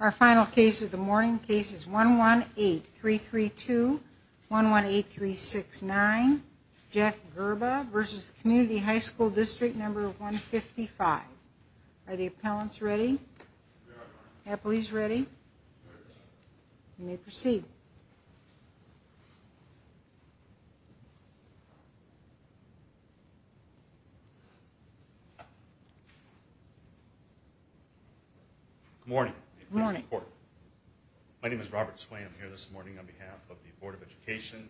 Our final case of the morning case is 118332118369 Jeff Gerba v. Community High School District No. 155. Are the appellants ready? Yes. Appellees ready? Yes. You may proceed. Good morning. Good morning. My name is Robert Sway. I'm here this morning on behalf of the Board of Education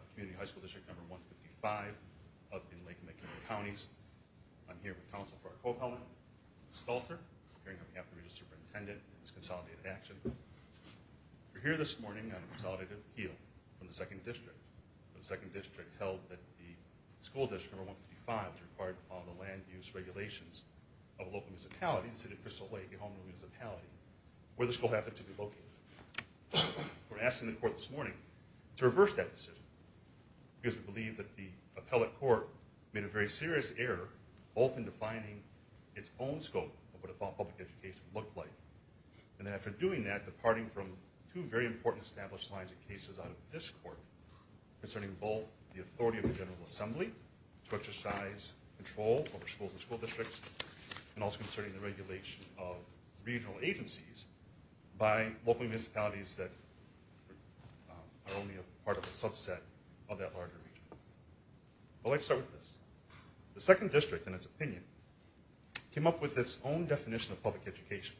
of Community High School District No. 155 up in Lake McKinley Counties. I'm here with counsel for our co-appellant, Ms. Stalter. I'm here on behalf of the Registrar's Superintendent for this consolidated action. We're here this morning on a consolidated appeal from the 2nd District. The 2nd District held that the School District No. 155 is required to follow the land use regulations of a local municipality, the City of Crystal Lake, a homeless municipality, where the school happens to be located. We're asking the court this morning to reverse that decision because we believe that the appellate court made a very serious error both in defining its own scope of what a public education looked like, and then after doing that, departing from two very important established lines of cases out of this court concerning both the authority of the General Assembly to exercise control over schools and school districts, and also concerning the regulation of regional agencies by local municipalities that are only a part of a subset of that larger region. I'd like to start with this. The 2nd District, in its opinion, came up with its own definition of public education.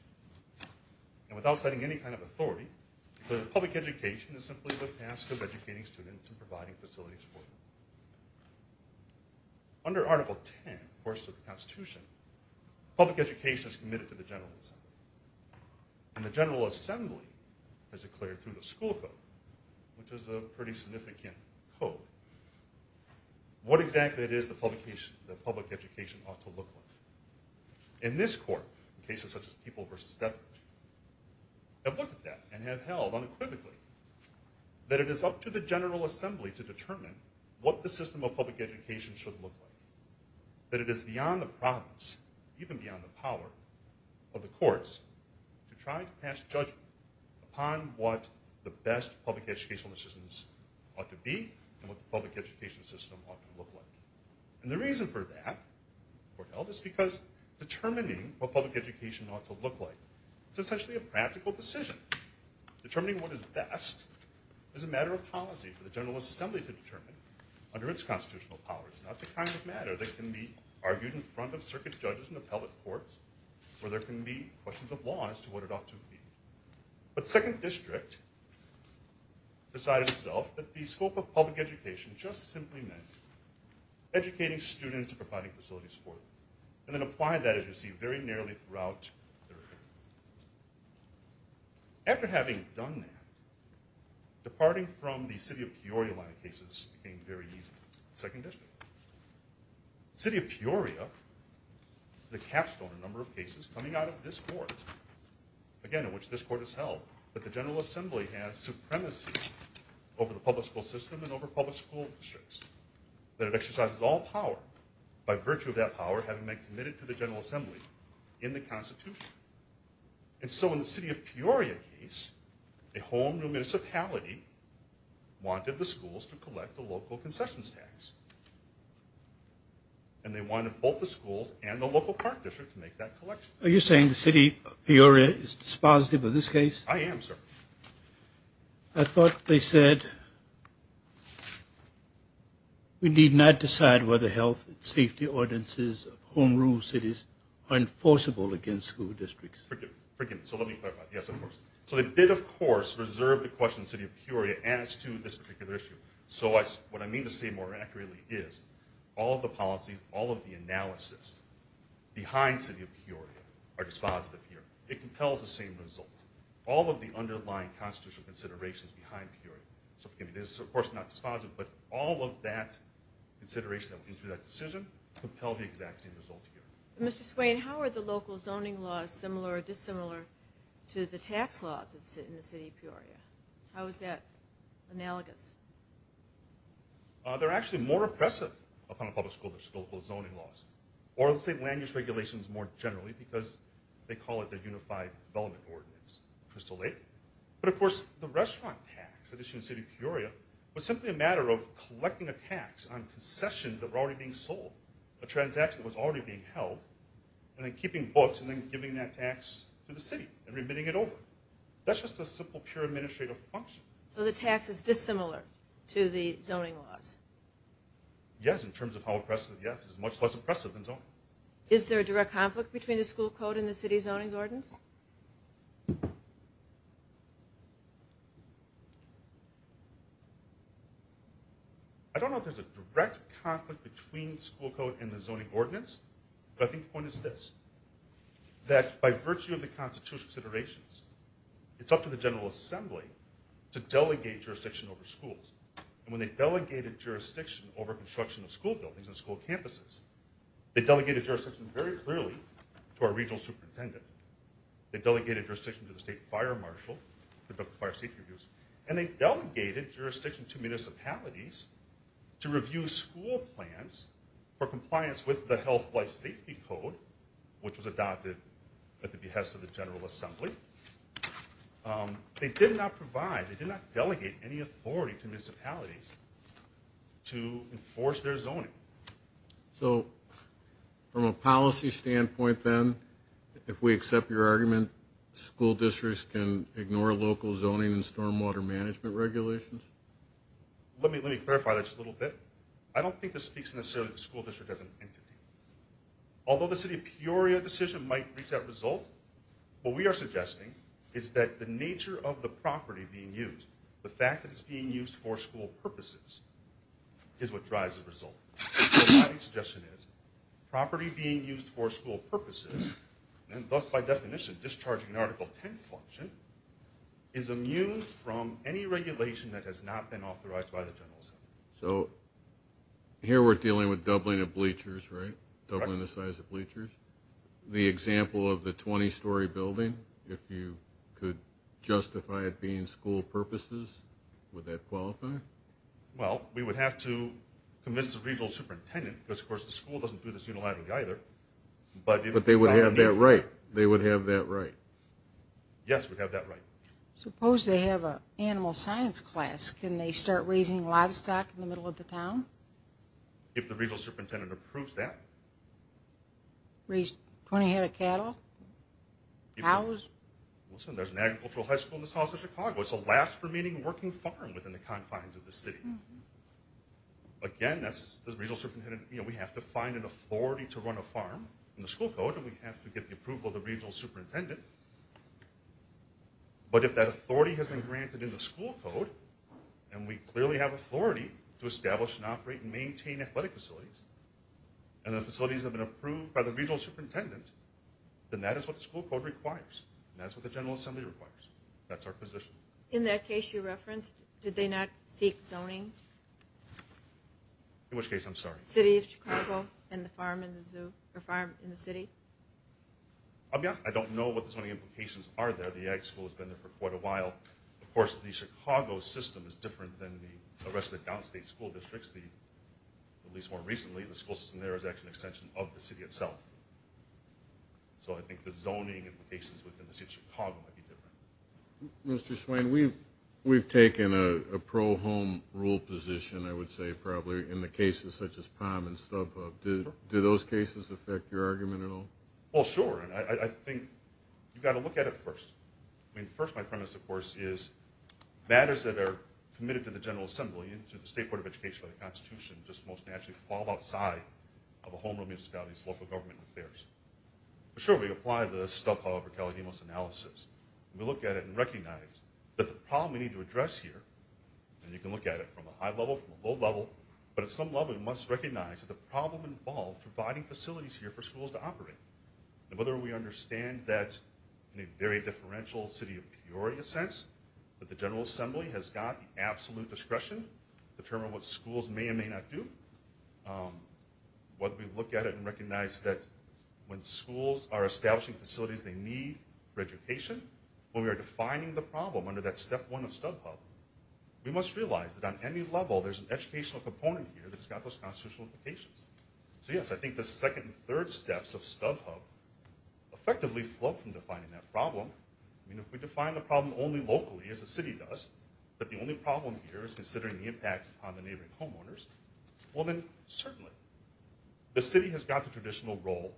And without citing any kind of authority, the public education is simply the task of Under Article 10, of course, of the Constitution, public education is committed to the General Assembly. And the General Assembly has declared through the school code, which is a pretty significant code, what exactly it is that public education ought to look like. In this court, in cases such as people versus death, have looked at that and have held unequivocally that it is up to the General Assembly to determine what the system of public education should look like, that it is beyond the province, even beyond the power of the courts, to try to pass judgment upon what the best public educational systems ought to be and what the public education system ought to look like. And the reason for that, the court held, is because determining what public education ought to look like is essentially a practical decision. Determining what is best is a matter of policy for the General Assembly to determine under its constitutional power. It's not the kind of matter that can be argued in front of circuit judges and appellate courts where there can be questions of law as to what it ought to be. But 2nd District decided itself that the scope of public education just simply meant educating students and providing facilities for them. And then applied that, as you see, very narrowly throughout their career. After having done that, departing from the city of Peoria line of cases became very easy in 2nd District. The city of Peoria is a capstone in a number of cases coming out of this court, again, in which this court has held that the General Assembly has supremacy over the public school system and over public school districts, that it exercises all power by virtue of that power having been committed to the General Assembly in the Constitution. And so in the city of Peoria case, a home municipality wanted the schools to collect the local concessions tax. And they wanted both the schools and the local park district to make that collection. Are you saying the city of Peoria is dispositive of this case? I am, sir. I thought they said we need not decide whether health and safety ordinances of home rule cities are enforceable against school districts. Forgive me. So let me clarify. Yes, of course. So they did, of course, reserve the question of the city of Peoria as to this particular issue. So what I mean to say more accurately is all of the policies, all of the analysis behind city of Peoria are dispositive here. It compels the same result. All of the underlying constitutional considerations behind Peoria. So forgive me. This is, of course, not dispositive, but all of that consideration that went into that decision compelled the exact same result here. Mr. Swain, how are the local zoning laws similar or dissimilar to the tax laws in the city of Peoria? How is that analogous? They're actually more oppressive upon a public school district than local zoning laws. Or let's say land use regulations more generally because they call it the unified development ordinance. Crystal Lake. But, of course, the restaurant tax issue in the city of Peoria was simply a matter of collecting a tax on concessions that were already being sold, a transaction that was already being held, and then keeping books and then giving that tax to the city and remitting it over. That's just a simple pure administrative function. So the tax is dissimilar to the zoning laws? Yes, in terms of how oppressive, yes. It's much less oppressive than zoning. Is there a direct conflict between the school code and the city zoning ordinance? I don't know if there's a direct conflict between school code and the zoning ordinance, but I think the point is this, that by virtue of the constitutional considerations, it's up to the General Assembly to delegate jurisdiction over schools. And when they delegated jurisdiction over construction of school buildings and school campuses, they delegated jurisdiction very clearly to our regional superintendent. They delegated jurisdiction to the state fire marshal for the fire safety reviews. And they delegated jurisdiction to municipalities to review school plans for compliance with the Health Life Safety Code, which was adopted at the behest of the General Assembly. They did not provide, they did not delegate any authority to municipalities to enforce their zoning. So, from a policy standpoint then, if we accept your argument, school districts can ignore local zoning and stormwater management regulations? Let me clarify that just a little bit. I don't think this speaks necessarily to the school district as an entity. Although the City of Peoria decision might reach that result, what we are suggesting is that the nature of the property being used, the fact that it's being used for school purposes, is what drives the result. So, my suggestion is, property being used for school purposes, and thus by definition discharging an Article 10 function, is immune from any regulation that has not been authorized by the General Assembly. So, here we're dealing with doubling of bleachers, right? Doubling the size of bleachers? The example of the 20-story building, if you could justify it being school purposes, would that qualify? Well, we would have to convince the regional superintendent, because of course the school doesn't do this unilaterally either. But they would have that right. They would have that right. Yes, we'd have that right. Suppose they have an animal science class. Can they start raising livestock in the middle of the town? If the regional superintendent approves that. Raise 20 head of cattle? Cows? Listen, there's an agricultural high school in the south of Chicago. It's the last remaining working farm within the confines of the city. Again, that's the regional superintendent. You know, we have to find an authority to run a farm in the school code, and we have to get the approval of the regional superintendent. But if that authority has been granted in the school code, and we clearly have authority to establish and operate and maintain athletic facilities, and the facilities have been approved by the regional superintendent, then that is what the school code requires. And that's what the General Assembly requires. That's our position. In that case you referenced, did they not seek zoning? In which case, I'm sorry? City of Chicago and the farm in the city? I'll be honest, I don't know what the zoning implications are there. The ag school has been there for quite a while. Of course, the Chicago system is different than the rest of the downstate school districts, at least more recently. The school system there is actually an extension of the city itself. So I think the zoning implications within the city of Chicago might be different. Mr. Swain, we've taken a pro-home rule position, I would say, probably, in the cases such as Palm and StubHub. Do those cases affect your argument at all? Well, sure. I think you've got to look at it first. I mean, first my premise, of course, is matters that are committed to the General Assembly and to the State Board of Education by the Constitution just most naturally fall outside of a homeroom municipality's local government affairs. Sure, we apply the StubHub or Caledonia analysis. We look at it and recognize that the problem we need to address here, and you can look at it from a high level, from a low level, but at some level we must recognize that the problem involved providing facilities here for schools to operate. And whether we understand that in a very differential city of Peoria sense, that the General Assembly has got the absolute discretion to determine what schools may and may not do, whether we look at it and recognize that when schools are establishing facilities they need for education, when we are defining the problem under that step one of StubHub, we must realize that on any level there's an educational component here that has got those constitutional implications. So, yes, I think the second and third steps of StubHub effectively flow from defining that problem. I mean, if we define the problem only locally, as the city does, but the only problem here is considering the impact on the neighboring homeowners, well then certainly the city has got the traditional role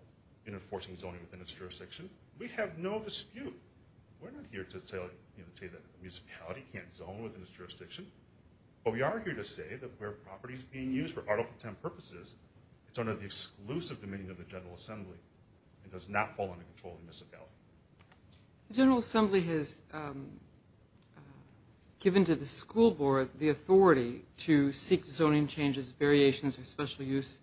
in enforcing zoning within its jurisdiction. We have no dispute. We're not here to say that a municipality can't zone within its jurisdiction, but we are here to say that where property is being used for Article 10 purposes, it's under the exclusive dominion of the General Assembly. It does not fall under control of the municipality. The General Assembly has given to the school board the authority to seek zoning changes, variations, or special use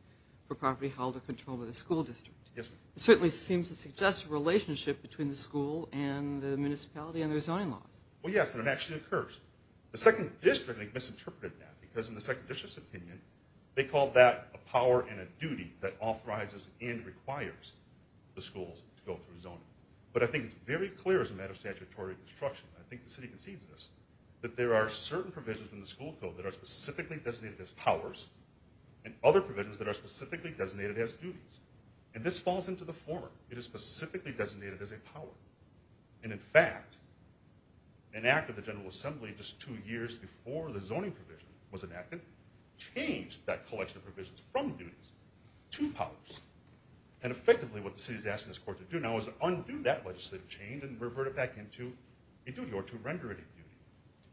for property held or controlled by the school district. Yes, ma'am. It certainly seems to suggest a relationship between the school and the municipality and their zoning laws. Well, yes, and it actually occurs. The second district misinterpreted that because in the second district's opinion, they called that a power and a duty that authorizes and requires the schools to go through zoning. But I think it's very clear as a matter of statutory construction, and I think the city concedes this, that there are certain provisions in the school code that are specifically designated as powers and other provisions that are specifically designated as duties. And this falls into the form. It is specifically designated as a power. And in fact, an act of the General Assembly just two years before the zoning provision was enacted changed that collection of provisions from duties to powers. And effectively, what the city is asking this court to do now is undo that legislative change and revert it back into a duty or to render it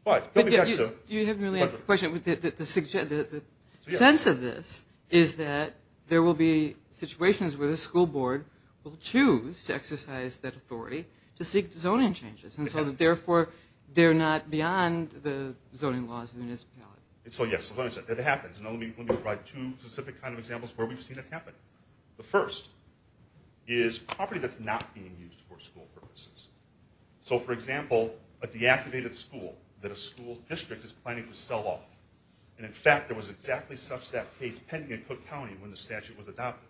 a duty. You haven't really asked the question. The sense of this is that there will be situations where the school board will choose to exercise that authority to seek zoning changes, and so therefore, they're not beyond the zoning laws of the municipality. And so yes, it happens. And let me provide two specific kind of examples where we've seen it happen. The first is property that's not being used for school purposes. So for example, a deactivated school that a school district is planning to sell off. And in fact, there was exactly such that case pending in Cook County when the statute was adopted.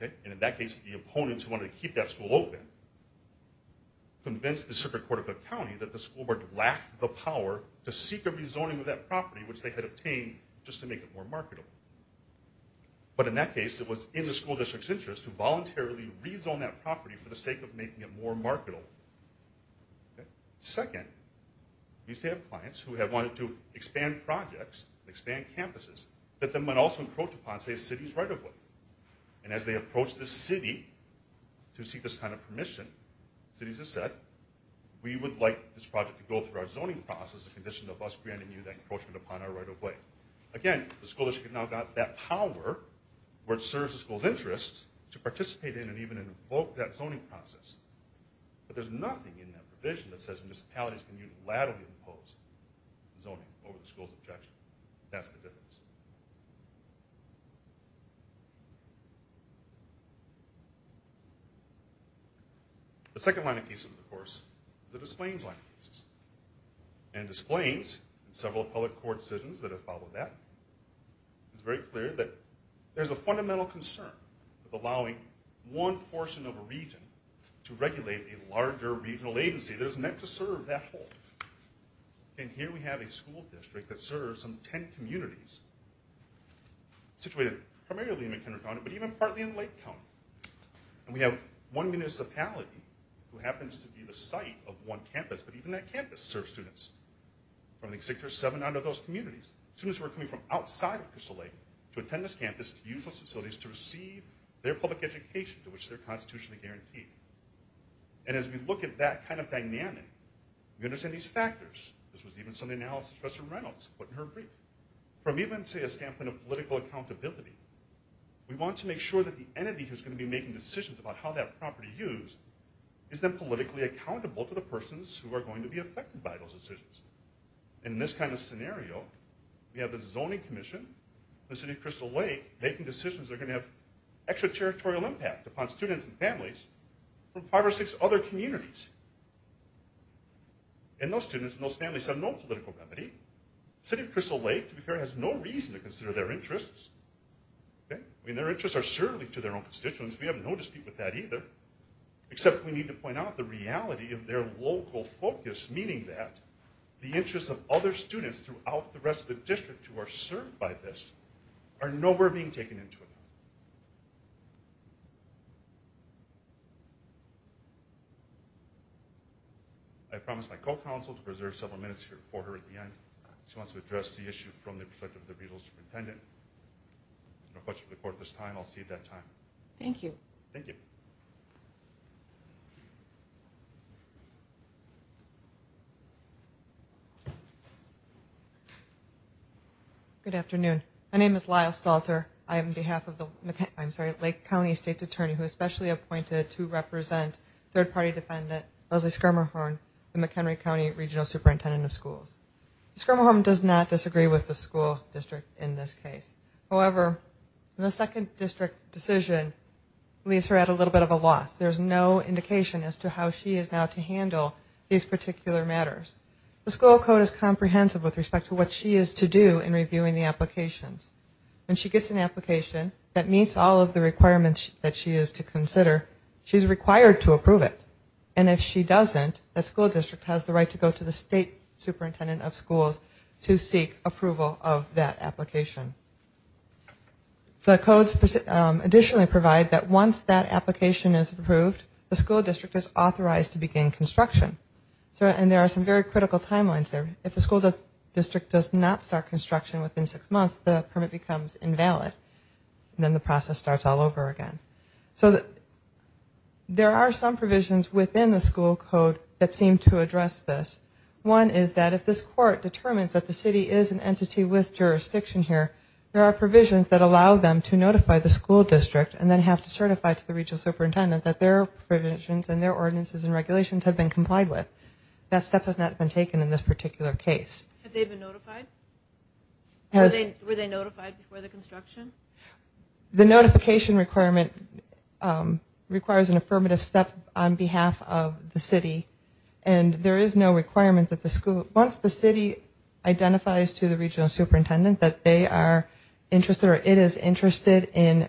And in that case, the opponents who wanted to keep that school open convinced the circuit court of Cook County that the school board lacked the power to seek a rezoning of that property which they had obtained just to make it more marketable. But in that case, it was in the school district's interest to voluntarily rezone that property for the sake of making it more marketable. Second, you still have clients who have wanted to expand projects, expand campuses, but then might also encroach upon, say, a city's right of way. And as they approach the city to seek this kind of permission, cities have said, we would like this project to go through our zoning process in condition of us granting you that encroachment upon our right of way. Again, the school district has now got that power, which serves the school's interests, to participate in and even invoke that zoning process. But there's nothing in that provision that says municipalities can unilaterally impose zoning over the school's objection. That's the difference. The second line of cases, of course, is the displains line of cases. In displains, several public court decisions that have followed that, it's very clear that there's a fundamental concern with allowing one portion of a region to regulate a larger regional agency that is meant to serve that whole. And here we have a school district that serves some 10 communities situated primarily in McHenry County, but even partly in Lake County. And we have one municipality who happens to be the site of one campus, but even that campus serves students. From the Executive Seven out of those communities, students who are coming from outside of Crystal Lake to attend this campus, to use those facilities, to receive their public education to which they're constitutionally guaranteed. And as we look at that kind of dynamic, we understand these factors. This was even some analysis Professor Reynolds put in her brief. From even, say, a standpoint of political accountability, we want to make sure that the entity who's going to be making decisions about how that property is used is then politically accountable to the persons who are going to be affected by those decisions. In this kind of scenario, we have the Zoning Commission, the City of Crystal Lake, making decisions that are going to have extraterritorial impact upon students and families from five or six other communities. And those students and those families have no political remedy. The City of Crystal Lake, to be fair, has no reason to consider their interests. I mean, their interests are certainly to their own constituents. We have no dispute with that either. Except we need to point out the reality of their local focus, meaning that the interests of other students throughout the rest of the district who are served by this are nowhere being taken into account. I promise my co-counsel to preserve several minutes here for her at the end. She wants to address the issue from the perspective of the regional superintendent. No question for the court this time. I'll see you at that time. Thank you. Thank you. Good afternoon. My name is Lyle Stalter. I am on behalf of the Waterloo District. I'm sorry, Lake County State's Attorney, who is specially appointed to represent third-party defendant Leslie Skirmihorn, the McHenry County Regional Superintendent of Schools. Skirmihorn does not disagree with the school district in this case. However, the second district decision leaves her at a little bit of a loss. There's no indication as to how she is now to handle these particular matters. The school code is comprehensive with respect to what she is to do in reviewing the applications. When she gets an application that meets all of the requirements that she is to consider, she's required to approve it. And if she doesn't, the school district has the right to go to the state superintendent of schools to seek approval of that application. The codes additionally provide that once that application is approved, the school district is authorized to begin construction. And there are some very critical timelines there. If the school district does not start construction within six months, the permit becomes invalid, and then the process starts all over again. So there are some provisions within the school code that seem to address this. One is that if this court determines that the city is an entity with jurisdiction here, there are provisions that allow them to notify the school district and then have to certify to the regional superintendent that their provisions and their ordinances and regulations have been complied with. That step has not been taken in this particular case. Have they been notified? Were they notified before the construction? The notification requirement requires an affirmative step on behalf of the city. And there is no requirement that the school, once the city identifies to the regional superintendent that they are interested or it is interested in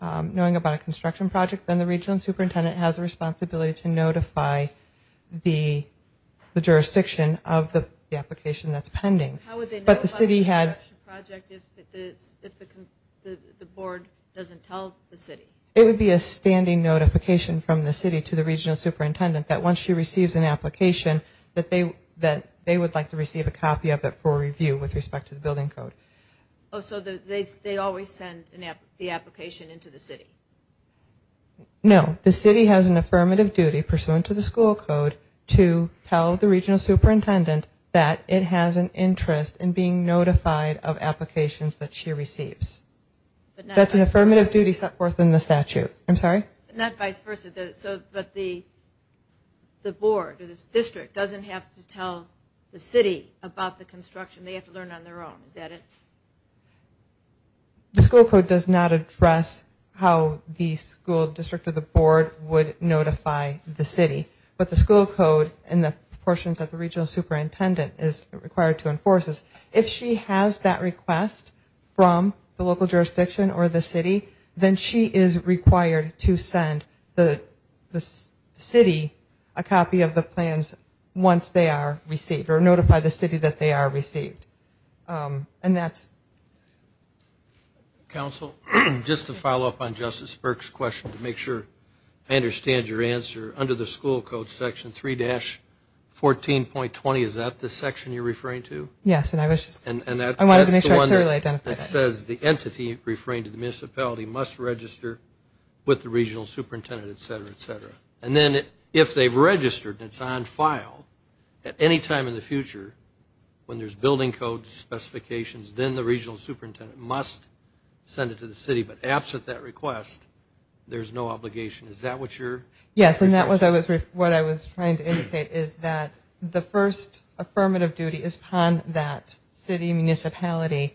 knowing about a construction project, then the regional superintendent has a responsibility to notify the jurisdiction of the application that is pending. How would they notify the construction project if the board doesn't tell the city? It would be a standing notification from the city to the regional superintendent that once she receives an application, that they would like to receive a copy of it for review with respect to the building code. So they always send the application into the city? No. The city has an affirmative duty pursuant to the school code to tell the regional superintendent that it has an interest in being notified of applications that she receives. That's an affirmative duty set forth in the statute. I'm sorry? Not vice versa. But the board or the district doesn't have to tell the city about the construction. They have to learn on their own. Is that it? The school code does not address how the school district or the board would notify the city. But the school code and the portions that the regional superintendent is required to enforce, if she has that request from the local jurisdiction or the city, then she is required to send the city a copy of the plans once they are received or notify the city that they are received. And that's... Counsel, just to follow up on Justice Burke's question to make sure I understand your answer, under the school code section 3-14.20, is that the section you're referring to? Yes. And I wanted to make sure I clearly identified that. And that's the one that says the entity referring to the municipality must register with the regional superintendent, et cetera, et cetera. And then if they've registered and it's on file, at any time in the future when there's building code specifications, then the regional superintendent must send it to the city. But absent that request, there's no obligation. Is that what you're... Yes, and that was what I was trying to indicate, is that the first affirmative duty is upon that city municipality.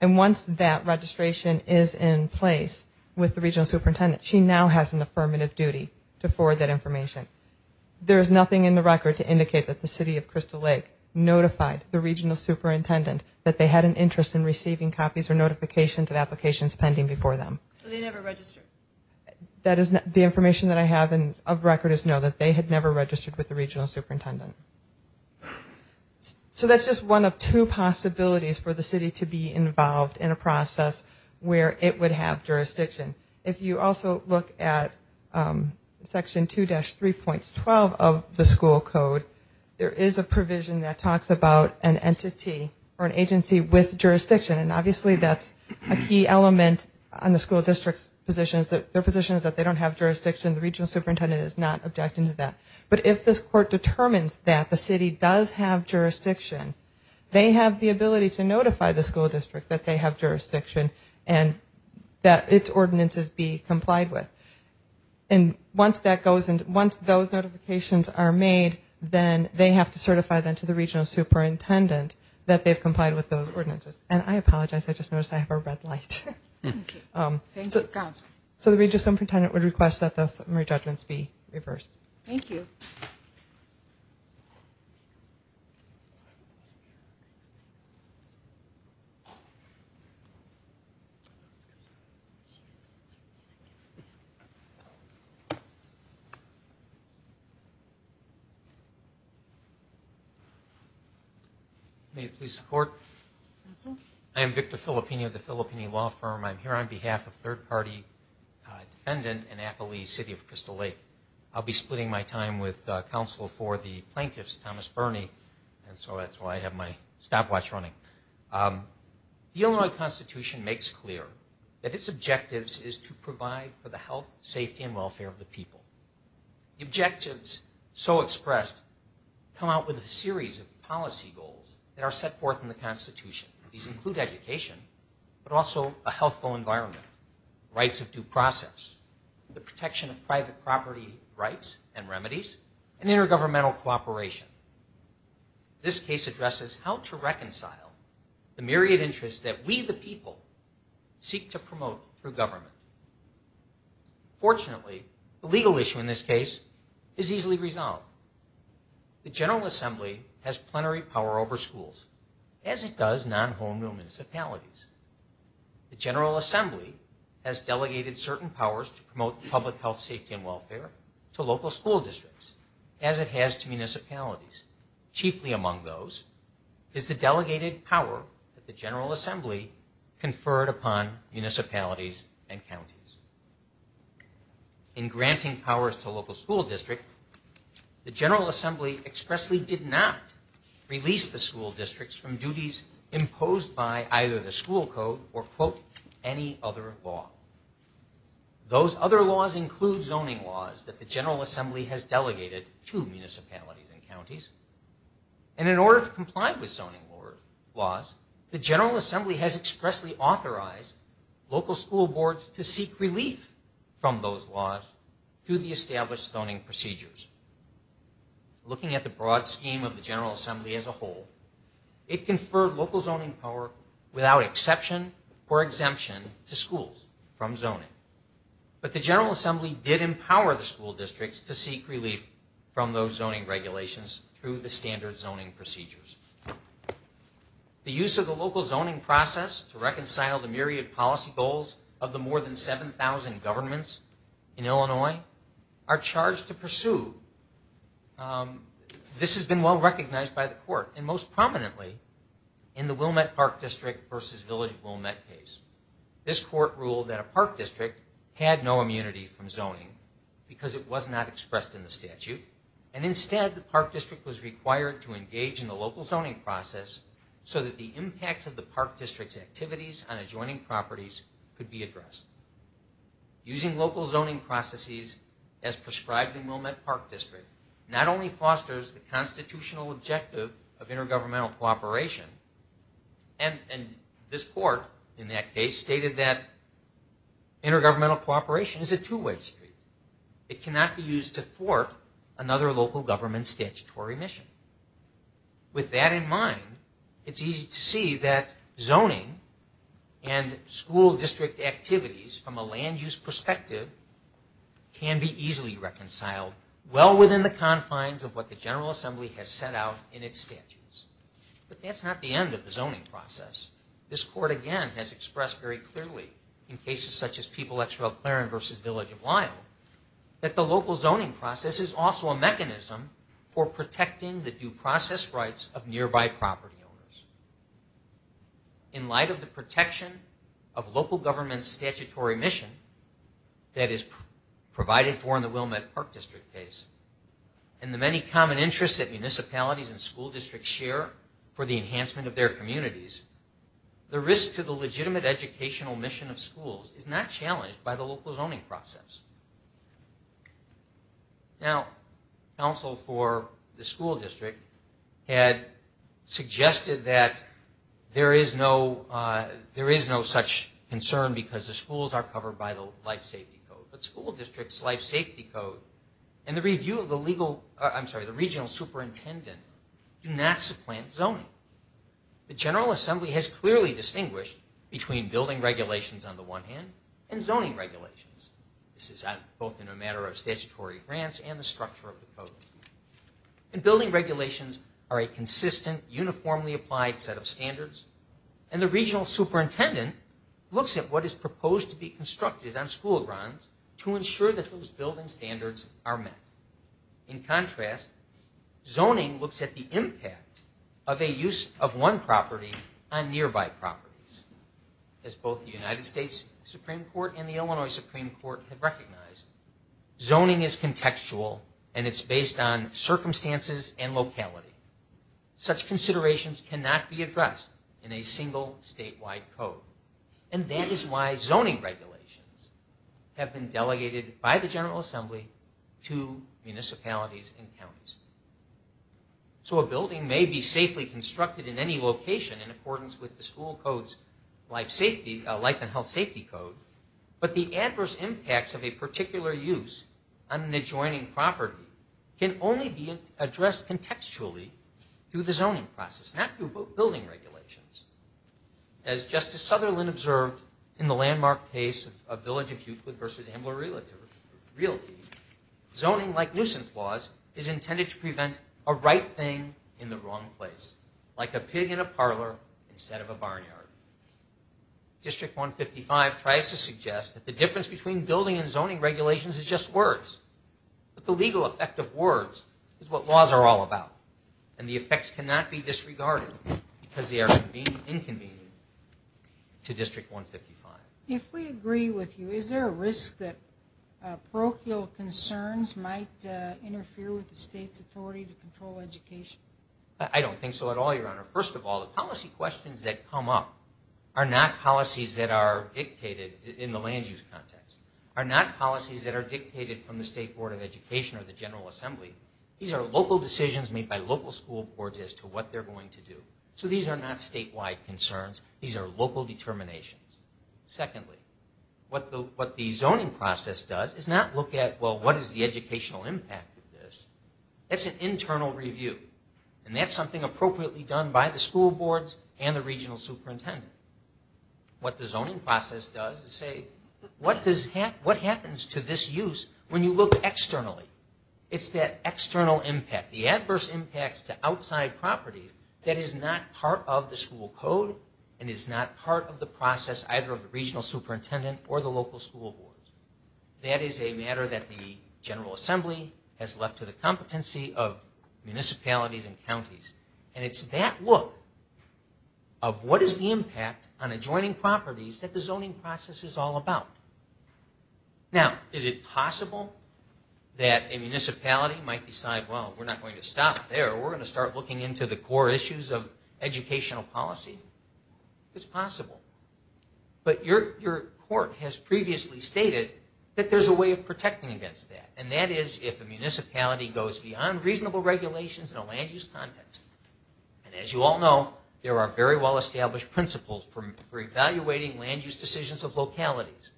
And once that registration is in place with the regional superintendent, she now has an affirmative duty to forward that information. There is nothing in the record to indicate that the city of Crystal Lake notified the regional superintendent that they had an interest in receiving copies or notifications of applications pending before them. So they never registered? The information that I have of record is no, that they had never registered with the regional superintendent. So that's just one of two possibilities for the city to be involved in a process where it would have jurisdiction. If you also look at Section 2-3.12 of the school code, there is a provision that talks about an entity or an agency with jurisdiction. And obviously that's a key element on the school district's positions. Their position is that they don't have jurisdiction. The regional superintendent is not objecting to that. But if this court determines that the city does have jurisdiction, they have the ability to notify the school district that they have jurisdiction and that its ordinances be complied with. And once those notifications are made, then they have to certify them to the regional superintendent that they've complied with those ordinances. And I apologize, I just noticed I have a red light. So the regional superintendent would request that the summary judgments be reversed. Thank you. May it please the Court. I am Victor Filippini of the Filippini Law Firm. I'm here on behalf of a third-party defendant in Appalachia City of Crystal Lake. I'll be splitting my time with counsel for the plaintiffs, Thomas Burney. And so that's why I have my stopwatch running. The Illinois Constitution makes clear that its objectives is to provide for the health, safety, and welfare of the people. Objectives so expressed come out with a series of policy goals that are set forth in the Constitution. These include education, but also a healthful environment, rights of due process, the protection of private property rights and remedies, and intergovernmental cooperation. This case addresses how to reconcile the myriad interests that we the people seek to promote through government. Fortunately, the legal issue in this case is easily resolved. The General Assembly has plenary power over schools, as it does non-home municipalities. The General Assembly has delegated certain powers to promote public health, safety, and welfare to local school districts, as it has to municipalities. Chiefly among those is the delegated power that the General Assembly conferred upon municipalities and counties. In granting powers to a local school district, the General Assembly expressly did not release the school districts from duties imposed by either the school code or, quote, any other law. Those other laws include zoning laws that the General Assembly has delegated to municipalities and counties. And in order to comply with zoning laws, the General Assembly has expressly authorized local school boards to seek relief from those laws through the established zoning procedures. Looking at the broad scheme of the General Assembly as a whole, it conferred local zoning power without exception or exemption to schools from zoning. But the General Assembly did empower the school districts to seek relief from those zoning regulations through the standard zoning procedures. The use of the local zoning process to reconcile the myriad policy goals of the more than 7,000 governments in Illinois are charged to pursue. This has been well recognized by the court and most prominently in the Wilmette Park District versus Village of Wilmette case. This court ruled that a park district had no immunity from zoning because it was not expressed in the statute. And instead, the park district was required to engage in the local zoning process so that the impact of the park district's activities on adjoining properties could be addressed. Using local zoning processes as prescribed in Wilmette Park District not only fosters the constitutional objective of intergovernmental cooperation, and this court in that case stated that intergovernmental cooperation is a two-way street. It cannot be used to thwart another local government statutory mission. With that in mind, it's easy to see that zoning and school district activities from a land-use perspective can be easily reconciled well within the confines of what the General Assembly has set out in its statutes. But that's not the end of the zoning process. This court, again, has expressed very clearly in cases such as People-X-Fell-Claren versus Village of Lyle that the local zoning process is also a mechanism for protecting the due process rights of nearby property owners. In light of the protection of local government's statutory mission that is provided for in the Wilmette Park District case and the many common interests that municipalities and school districts share for the enhancement of their communities, the risk to the legitimate educational mission of schools is not challenged by the local zoning process. Now, counsel for the school district had suggested that there is no such concern because the schools are covered by the life safety code. But school district's life safety code and the review of the regional superintendent do not supplant zoning. The General Assembly has clearly distinguished between building regulations on the one hand and zoning regulations. This is both in a matter of statutory grants and the structure of the code. Building regulations are a consistent, uniformly applied set of standards and the regional superintendent looks at what is proposed to be constructed on school grounds to ensure that those building standards are met. In contrast, zoning looks at the impact of a use of one property on nearby properties. As both the United States Supreme Court and the Illinois Supreme Court have recognized, zoning is contextual and it's based on circumstances and locality. Such considerations cannot be addressed in a single statewide code. And that is why zoning regulations have been delegated by the General Assembly to municipalities and counties. So a building may be safely constructed in any location in accordance with the school code's life and health safety code, but the adverse impacts of a particular use on an adjoining property can only be addressed contextually through the zoning process, not through building regulations. As Justice Sutherland observed in the landmark case of Village of Euclid v. Ambler Realty, zoning like nuisance laws is intended to prevent a right thing in the wrong place, like a pig in a parlor instead of a barnyard. District 155 tries to suggest that the difference between building and zoning regulations is just words, but the legal effect of words is what laws are all about and the effects cannot be disregarded because they are inconvenient to District 155. If we agree with you, is there a risk that parochial concerns might interfere with the state's authority to control education? I don't think so at all, Your Honor. First of all, the policy questions that come up are not policies that are dictated in the land use context, are not policies that are dictated from the State Board of Education or the General Assembly. These are local decisions made by local school boards as to what they're going to do. So these are not statewide concerns. These are local determinations. Secondly, what the zoning process does is not look at, well, what is the educational impact of this. It's an internal review, and that's something appropriately done by the school boards and the regional superintendent. What the zoning process does is say, what happens to this use when you look externally? It's that external impact, the adverse impacts to outside properties that is not part of the school code and is not part of the process either of the regional superintendent or the local school boards. That is a matter that the General Assembly has left to the competency of municipalities and counties. And it's that look of what is the impact on adjoining properties that the zoning process is all about. Now, is it possible that a municipality might decide, well, we're not going to stop there. We're going to start looking into the core issues of educational policy. It's possible. But your court has previously stated that there's a way of protecting against that, and that is if a municipality goes beyond reasonable regulations in a land use context. And as you all know, there are very well-established principles for evaluating land use decisions of localities.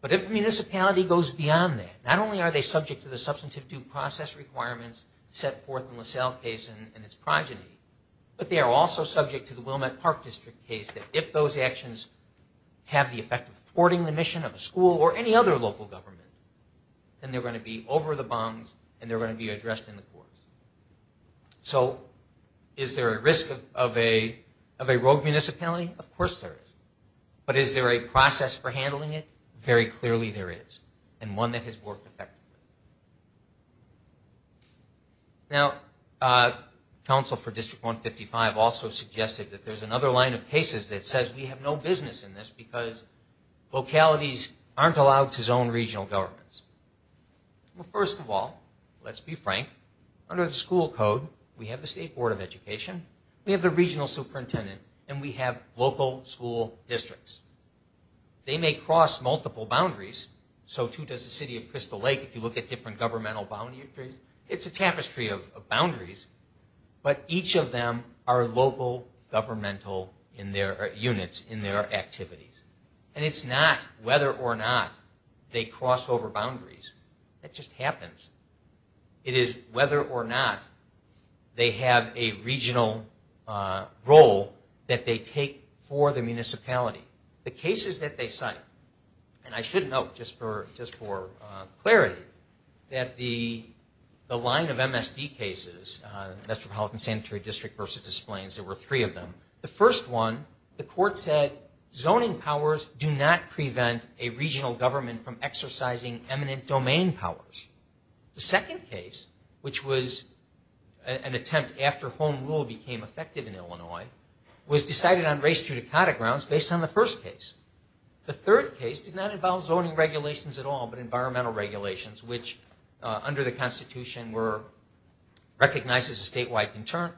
But if a municipality goes beyond that, not only are they subject to the substantive due process requirements set forth in LaSalle case and its progeny, but they are also subject to the Wilmette Park District case that if those actions have the effect of thwarting the mission of a school or any other local government, then they're going to be over the bums and they're going to be addressed in the courts. So is there a risk of a rogue municipality? Of course there is. But is there a process for handling it? Very clearly there is, and one that has worked effectively. Now, counsel for District 155 also suggested that there's another line of cases that says we have no business in this because localities aren't allowed to zone regional governments. Well, first of all, let's be frank. Under the school code, we have the State Board of Education, we have the regional superintendent, and we have local school districts. They may cross multiple boundaries, so too does the city of Crystal Lake. If you look at different governmental boundaries, it's a tapestry of boundaries, but each of them are local governmental units in their activities. And it's not whether or not they cross over boundaries. That just happens. It is whether or not they have a regional role that they take for the municipality. The cases that they cite, and I should note just for clarity, that the line of MSD cases, Metropolitan Sanitary District v. Des Plaines, there were three of them. The first one, the court said zoning powers do not prevent a regional government from exercising eminent domain powers. The second case, which was an attempt after home rule became effective in Illinois, was decided on race judicata grounds based on the first case. The third case did not involve zoning regulations at all, but environmental regulations, which under the Constitution were recognized as a statewide concern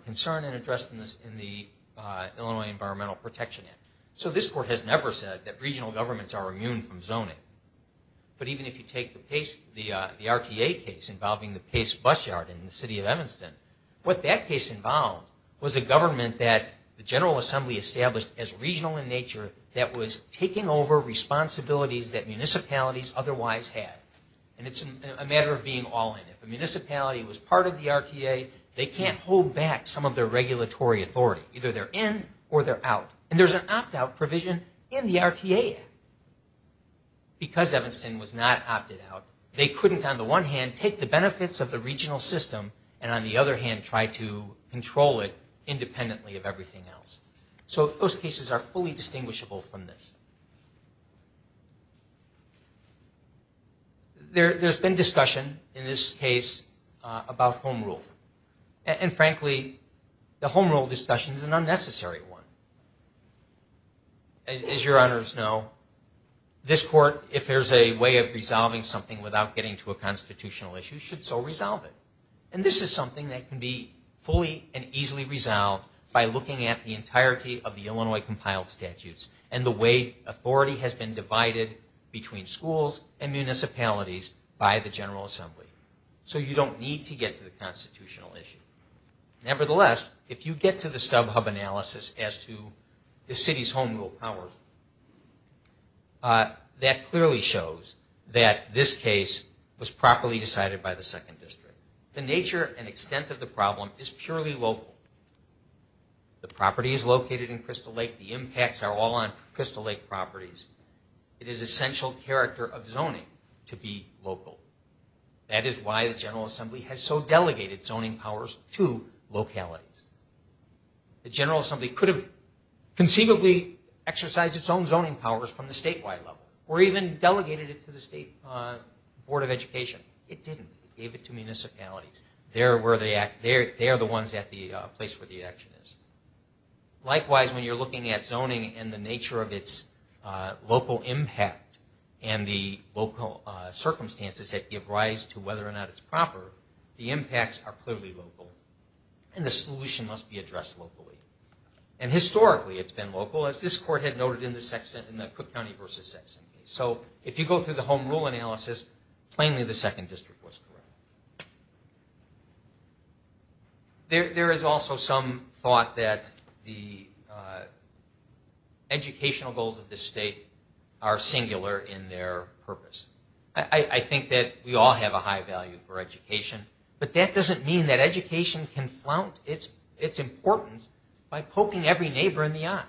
and addressed in the Illinois Environmental Protection Act. So this court has never said that regional governments are immune from zoning. But even if you take the RTA case involving the Pace Bus Yard in the city of Evanston, what that case involved was a government that the General Assembly established as regional in nature that was taking over responsibilities that municipalities otherwise had. And it's a matter of being all in. If a municipality was part of the RTA, they can't hold back some of their regulatory authority. Either they're in or they're out. And there's an opt-out provision in the RTA Act. Because Evanston was not opted out, they couldn't, on the one hand, take the benefits of the regional system and, on the other hand, try to control it independently of everything else. So those cases are fully distinguishable from this. There's been discussion in this case about home rule. And frankly, the home rule discussion is an unnecessary one. As your honors know, this court, if there's a way of resolving something without getting to a constitutional issue, should so resolve it. And this is something that can be fully and easily resolved by looking at the entirety of the Illinois compiled statutes and the way authority has been divided between schools and municipalities by the General Assembly. So you don't need to get to the constitutional issue. Nevertheless, if you get to the StubHub analysis as to the city's home rule powers, that clearly shows that this case was properly decided by the Second District. The nature and extent of the problem is purely local. The property is located in Crystal Lake. The impacts are all on Crystal Lake properties. It is essential character of zoning to be local. That is why the General Assembly has so delegated zoning powers to localities. The General Assembly could have conceivably exercised its own zoning powers from the statewide level or even delegated it to the State Board of Education. It didn't. It gave it to municipalities. They are the ones at the place where the action is. Likewise, when you're looking at zoning and the nature of its local impact and the local circumstances that give rise to whether or not it's proper, the impacts are clearly local, and the solution must be addressed locally. And historically, it's been local, as this court had noted in the Cook County v. Sexton case. So if you go through the home rule analysis, plainly the Second District was correct. There is also some thought that the educational goals of this state are singular in their purpose. I think that we all have a high value for education, but that doesn't mean that education can flaunt its importance by poking every neighbor in the eye.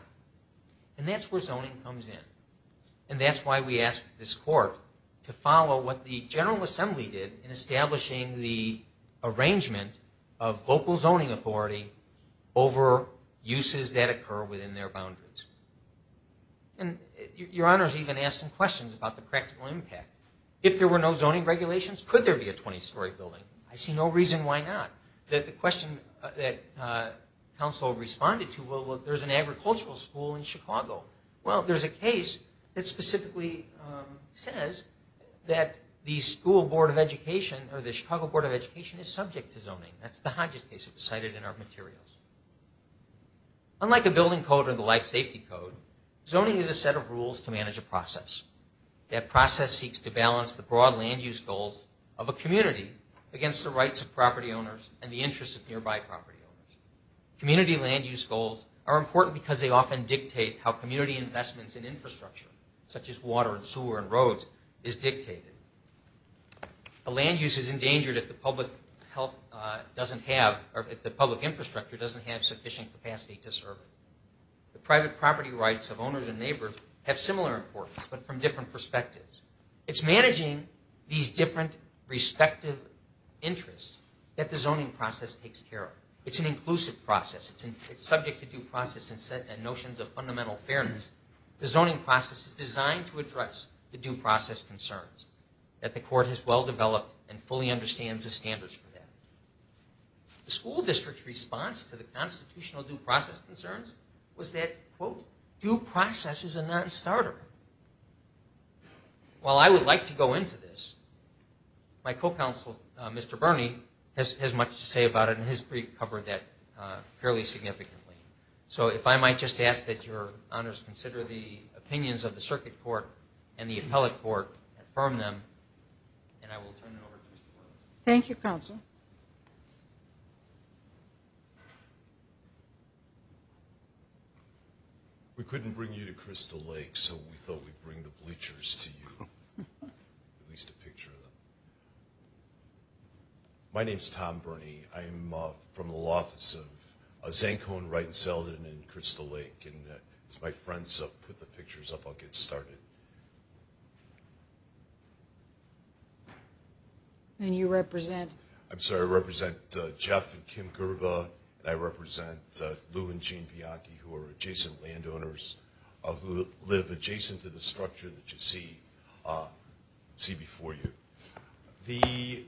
And that's where zoning comes in. And that's why we asked this court to follow what the General Assembly did in establishing the arrangement of local zoning authority over uses that occur within their boundaries. And Your Honors even asked some questions about the practical impact. If there were no zoning regulations, could there be a 20-story building? I see no reason why not. The question that counsel responded to, well, there's an agricultural school in Chicago. Well, there's a case that specifically says that the School Board of Education or the Chicago Board of Education is subject to zoning. That's the Hodges case that was cited in our materials. Unlike the Building Code or the Life Safety Code, zoning is a set of rules to manage a process. That process seeks to balance the broad land use goals of a community against the rights of property owners and the interests of nearby property owners. Community land use goals are important because they often dictate how community investments in infrastructure, such as water and sewer and roads, is dictated. The land use is endangered if the public infrastructure doesn't have sufficient capacity to serve it. The private property rights of owners and neighbors have similar importance but from different perspectives. It's managing these different respective interests that the zoning process takes care of. It's an inclusive process. It's subject to due process and notions of fundamental fairness. The zoning process is designed to address the due process concerns that the court has well developed and fully understands the standards for that. The school district's response to the constitutional due process concerns was that, quote, due process is a non-starter. While I would like to go into this, my co-counsel, Mr. Bernie, has much to say about it and has covered that fairly significantly. So if I might just ask that your honors consider the opinions of the circuit court and the appellate court, affirm them, and I will turn it over to Mr. Bernie. Thank you, counsel. We couldn't bring you to Crystal Lake, so we thought we'd bring the bleachers to you. At least a picture of them. My name's Tom Bernie. I'm from the office of Zancone, Wright & Selden, and Crystal Lake. As my friends put the pictures up, I'll get started. And you represent? I'm sorry, I represent Jeff and Kim Gerba, and I represent Lou and Jean Bianchi, who are adjacent landowners who live adjacent to the structure that you see before you. The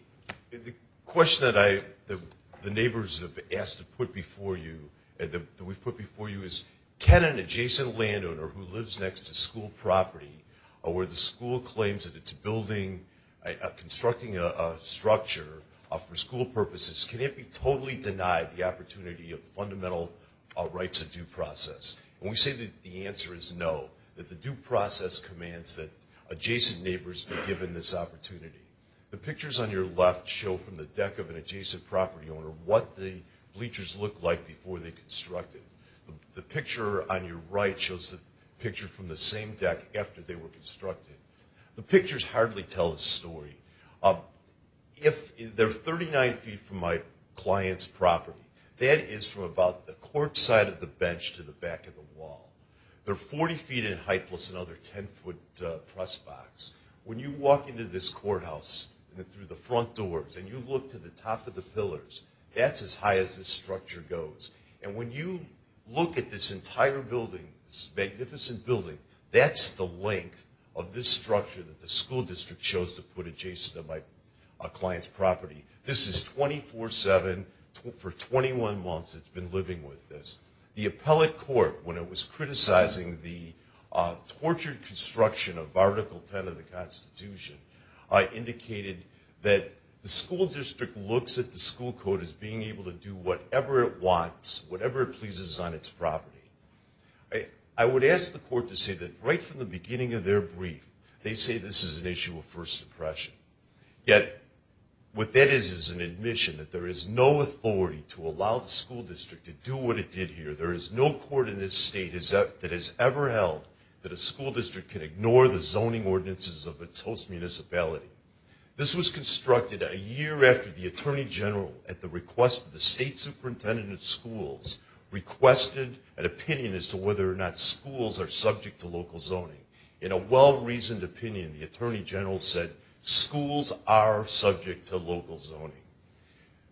question that the neighbors have asked to put before you, that we've put before you, is can an adjacent landowner who lives next to school property, or where the school claims that it's constructing a structure for school purposes, can it be totally denied the opportunity of fundamental rights of due process? And we say that the answer is no, that the due process commands that adjacent neighbors be given this opportunity. The pictures on your left show from the deck of an adjacent property owner what the bleachers looked like before they constructed. The picture on your right shows the picture from the same deck after they were constructed. The pictures hardly tell the story. They're 39 feet from my client's property. That is from about the cork side of the bench to the back of the wall. They're 40 feet in height plus another 10-foot press box. When you walk into this courthouse through the front doors and you look to the top of the pillars, that's as high as this structure goes. And when you look at this entire building, this magnificent building, that's the length of this structure that the school district chose to put adjacent to my client's property. This is 24-7, for 21 months it's been living with this. The appellate court, when it was criticizing the tortured construction of Article 10 of the Constitution, indicated that the school district looks at the school code as being able to do whatever it wants, whatever it pleases on its property. I would ask the court to say that right from the beginning of their brief, they say this is an issue of first impression. Yet what that is is an admission that there is no authority to allow the school district to do what it did here. There is no court in this state that has ever held that a school district can ignore the zoning ordinances of its host municipality. This was constructed a year after the Attorney General, at the request of the state superintendent of schools, requested an opinion as to whether or not schools are subject to local zoning. In a well-reasoned opinion, the Attorney General said, schools are subject to local zoning.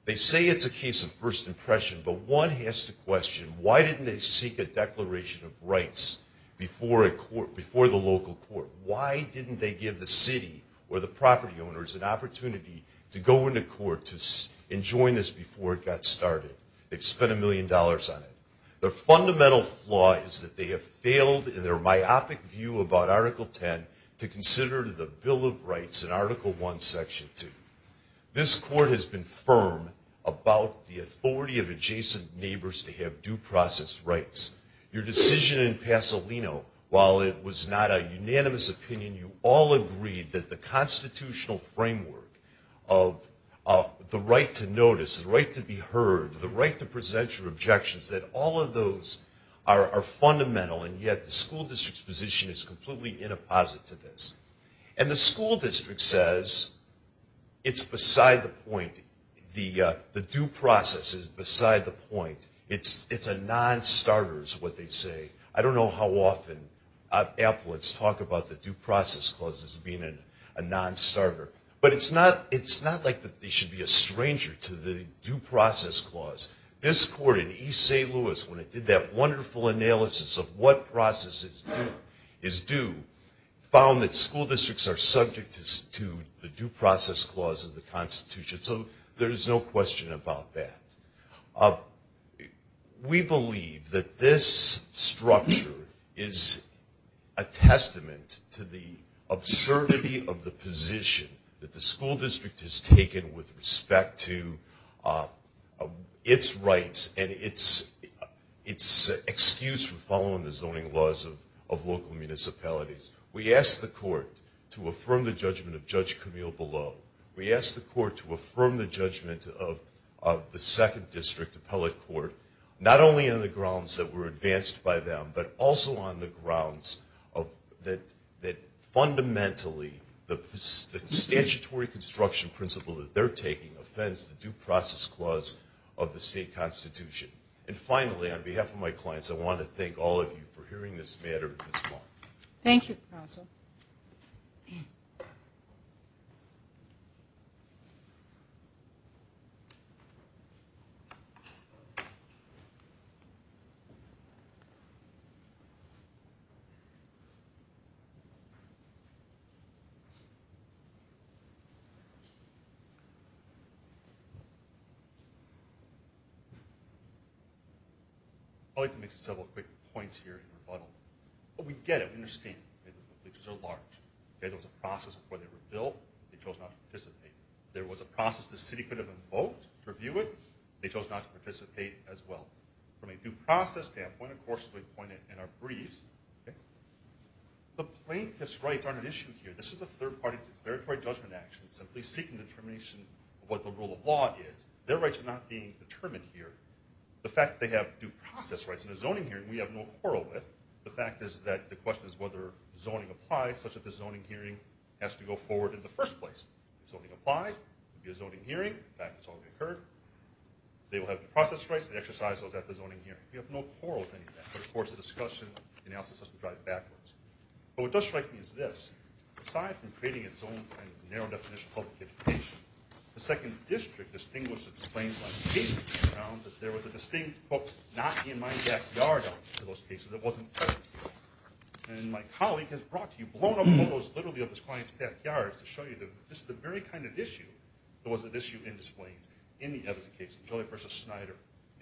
They say it's a case of first impression, but one has to question, why didn't they seek a declaration of rights before the local court? Why didn't they give the city or the property owners an opportunity to go into court and join this before it got started? They've spent a million dollars on it. The fundamental flaw is that they have failed in their myopic view about Article 10 to consider the Bill of Rights in Article 1, Section 2. This court has been firm about the authority of adjacent neighbors to have due process rights. Your decision in Pasolino, while it was not a unanimous opinion, you all agreed that the constitutional framework of the right to notice, the right to be heard, the right to present your objections, that all of those are fundamental, and yet the school district's position is completely inapposite to this. And the school district says it's beside the point. The due process is beside the point. It's a non-starter is what they say. I don't know how often applets talk about the due process clause as being a non-starter, but it's not like they should be a stranger to the due process clause. This court in East St. Louis, when it did that wonderful analysis of what process is due, found that school districts are subject to the due process clause of the Constitution, so there is no question about that. We believe that this structure is a testament to the absurdity of the position that the school district has taken with respect to its rights and its excuse for following the zoning laws of local municipalities. We asked the court to affirm the judgment of Judge Camille Below. We asked the court to affirm the judgment of the second district appellate court, not only on the grounds that were advanced by them, but also on the grounds that fundamentally the statutory construction principle that they're taking offends the due process clause of the state Constitution. And finally, on behalf of my clients, I want to thank all of you for hearing this matter this morning. Thank you, counsel. I'd like to make several quick points here in rebuttal. We get it. We understand. The glitches are large. There was a process before they were built. They chose not to participate. There was a process the city could have invoked to review it. They chose not to participate as well. From a due process standpoint, of course, as we pointed in our briefs, the plaintiff's rights aren't an issue here. This is a third-party declaratory judgment action, simply seeking determination of what the rule of law is. Their rights are not being determined here. The fact that they have due process rights in a zoning hearing we have no quarrel with. The fact is that the question is whether zoning applies, such that the zoning hearing has to go forward in the first place. If zoning applies, it will be a zoning hearing. In fact, it's already occurred. They will have due process rights. They exercise those at the zoning hearing. We have no quarrel with any of that. But, of course, the discussion and analysis has to drive backwards. But what does strike me is this. Aside from creating its own kind of narrow-definition public education, the second district distinguished its claims by the case. It found that there was a distinct, quote, not in my backyard of those cases. It wasn't there. And my colleague has brought to you blown-up photos, literally, of his client's backyard to show you that this is the very kind of issue that was at issue in his claims in the Edison case, Jolly v. Snyder.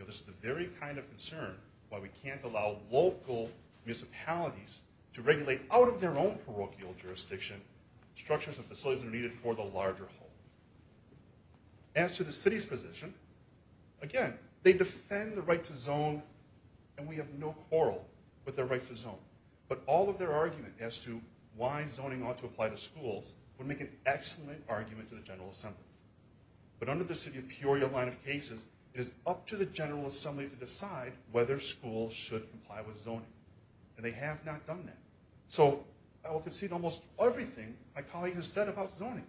This is the very kind of concern why we can't allow local municipalities to regulate out of their own parochial jurisdiction structures and facilities that are needed for the larger whole. As to the city's position, again, they defend the right to zone, and we have no quarrel with their right to zone. But all of their argument as to why zoning ought to apply to schools would make an excellent argument to the General Assembly. But under the city of Peoria line of cases, it is up to the General Assembly to decide whether schools should comply with zoning. And they have not done that. So I will concede almost everything my colleague has said about zoning.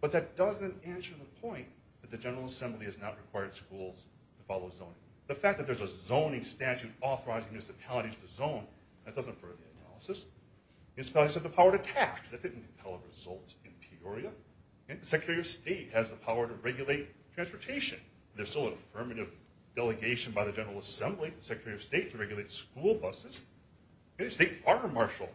But that doesn't answer the point that the General Assembly has not required schools to follow zoning. The fact that there's a zoning statute authorizing municipalities to zone, that doesn't further the analysis. Municipalities have the power to tax. That didn't tell a result in Peoria. The Secretary of State has the power to regulate transportation. There's still an affirmative delegation by the General Assembly to the Secretary of State to regulate school buses. The State Fire Marshal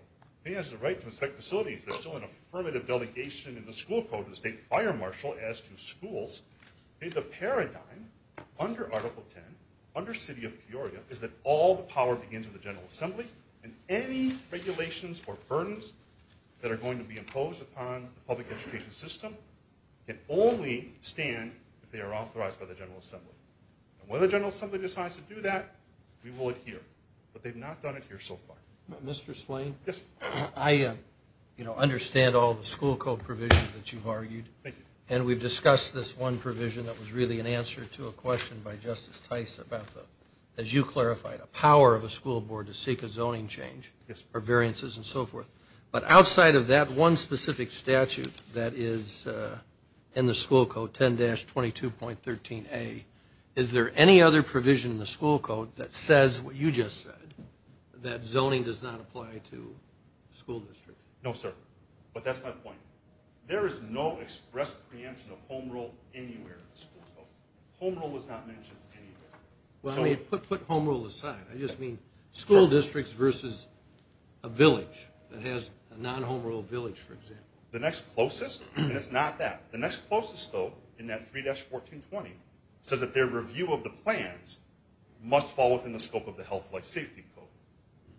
has the right to inspect facilities. There's still an affirmative delegation in the school code from the State Fire Marshal as to schools. The paradigm under Article 10, under city of Peoria, is that all the power begins with the General Assembly, and any regulations or burdens that are going to be imposed upon the public education system can only stand if they are authorized by the General Assembly. And when the General Assembly decides to do that, we will adhere. But they've not done it here so far. Mr. Slane? Yes. I understand all the school code provisions that you've argued. Thank you. And we've discussed this one provision that was really an answer to a question by Justice Tice about the, as you clarified, a power of a school board to seek a zoning change or variances and so forth. But outside of that one specific statute that is in the school code, 10-22.13a, is there any other provision in the school code that says what you just said, that zoning does not apply to school districts? No, sir. But that's my point. There is no express preemption of home rule anywhere in the school code. Home rule is not mentioned anywhere. Well, put home rule aside. I just mean school districts versus a village that has a non-home rule village, for example. The next closest is not that. The next closest, though, in that 3-1420, says that their review of the plans must fall within the scope of the Health and Life Safety Code,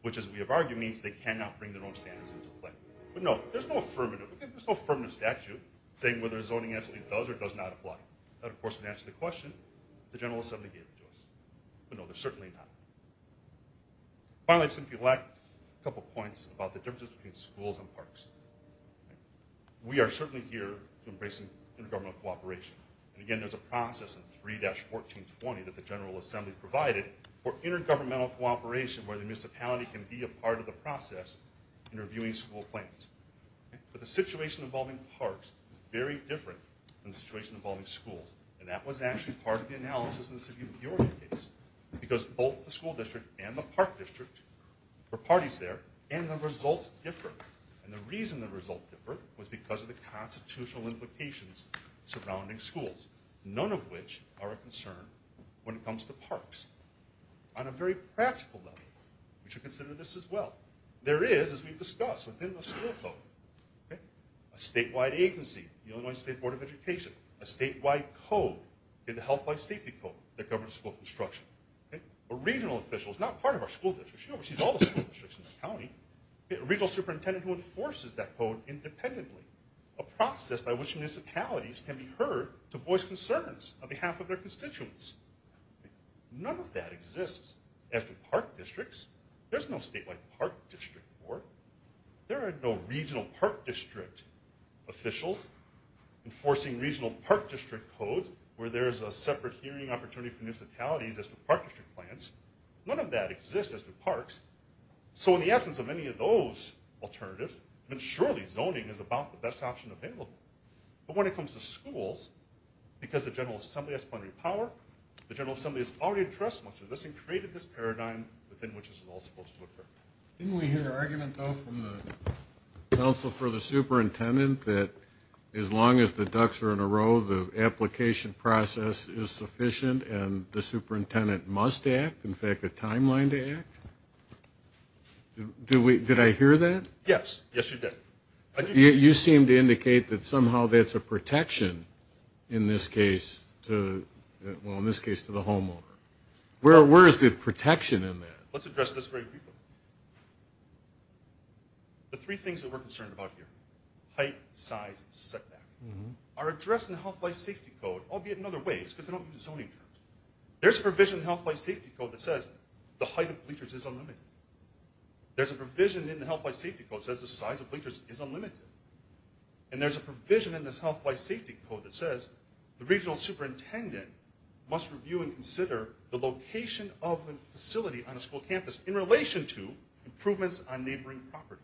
which, as we have argued, means they cannot bring their own standards into play. But, no, there's no affirmative statute saying whether zoning absolutely does or does not apply. That, of course, would answer the question the General Assembly gave to us. But, no, there's certainly not. Finally, I'd simply like a couple points about the differences between schools and parks. We are certainly here to embrace intergovernmental cooperation. And, again, there's a process in 3-1420 that the General Assembly provided for intergovernmental cooperation where the municipality can be a part of the process in reviewing school plans. But the situation involving parks is very different than the situation involving schools. And that was actually part of the analysis in the City of Peoria case because both the school district and the park district were parties there, and the results differ. And the reason the results differ was because of the constitutional implications surrounding schools, none of which are a concern when it comes to parks. On a very practical level, we should consider this as well. There is, as we've discussed, within the school code, a statewide agency, the Illinois State Board of Education, a statewide code, the Health Life Safety Code that governs school construction. A regional official is not part of our school district. She oversees all the school districts in the county. A regional superintendent who enforces that code independently, a process by which municipalities can be heard to voice concerns on behalf of their constituents. None of that exists as to park districts. There's no statewide park district board. There are no regional park district officials enforcing regional park district codes where there's a separate hearing opportunity for municipalities as to park district plans. None of that exists as to parks. So in the absence of any of those alternatives, surely zoning is about the best option available. But when it comes to schools, because the General Assembly has plenary power, the General Assembly has already addressed much of this and created this paradigm within which this is all supposed to occur. Didn't we hear an argument, though, from the council for the superintendent that as long as the ducks are in a row, the application process is sufficient and the superintendent must act, in fact, a timeline to act? Did I hear that? Yes, yes, you did. You seem to indicate that somehow that's a protection in this case to, well, in this case to the homeowner. Where is the protection in that? Let's address this very briefly. The three things that we're concerned about here, height, size, setback, are addressed in the Health, Life, Safety Code, albeit in other ways, because they don't use zoning terms. There's a provision in the Health, Life, Safety Code that says the height of bleachers is unlimited. There's a provision in the Health, Life, Safety Code that says the size of bleachers is unlimited. And there's a provision in this Health, Life, Safety Code that says the regional superintendent must review and consider the location of a facility on a school campus in relation to improvements on neighboring property.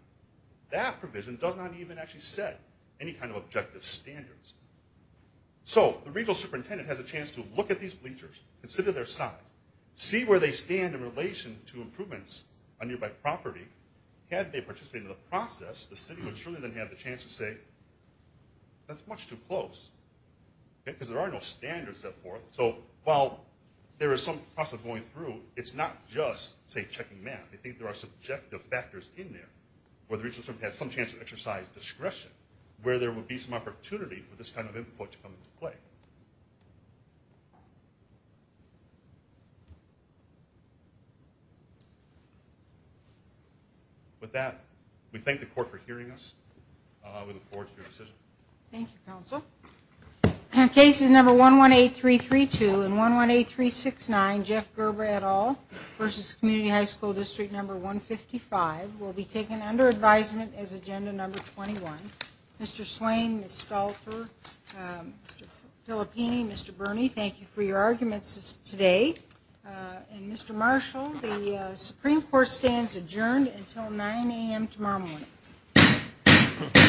That provision does not even actually set any kind of objective standards. So the regional superintendent has a chance to look at these bleachers, consider their size, see where they stand in relation to improvements on nearby property. Had they participated in the process, the city would surely then have the chance to say, that's much too close, because there are no standards set forth. So while there is some process going through, it's not just, say, checking math. I think there are subjective factors in there where the regional superintendent has some chance to exercise discretion, where there would be some opportunity for this kind of input to come into play. Thank you. With that, we thank the Court for hearing us. We look forward to your decision. Thank you, Counsel. Cases number 118332 and 118369, Jeff Gerber, et al., versus Community High School District Number 155, will be taken under advisement as Agenda Number 21. Mr. Slane, Ms. Stolper, Mr. Filippini, Mr. Burney, thank you for your arguments today. And Mr. Marshall, the Supreme Court stands adjourned until 9 a.m. tomorrow morning.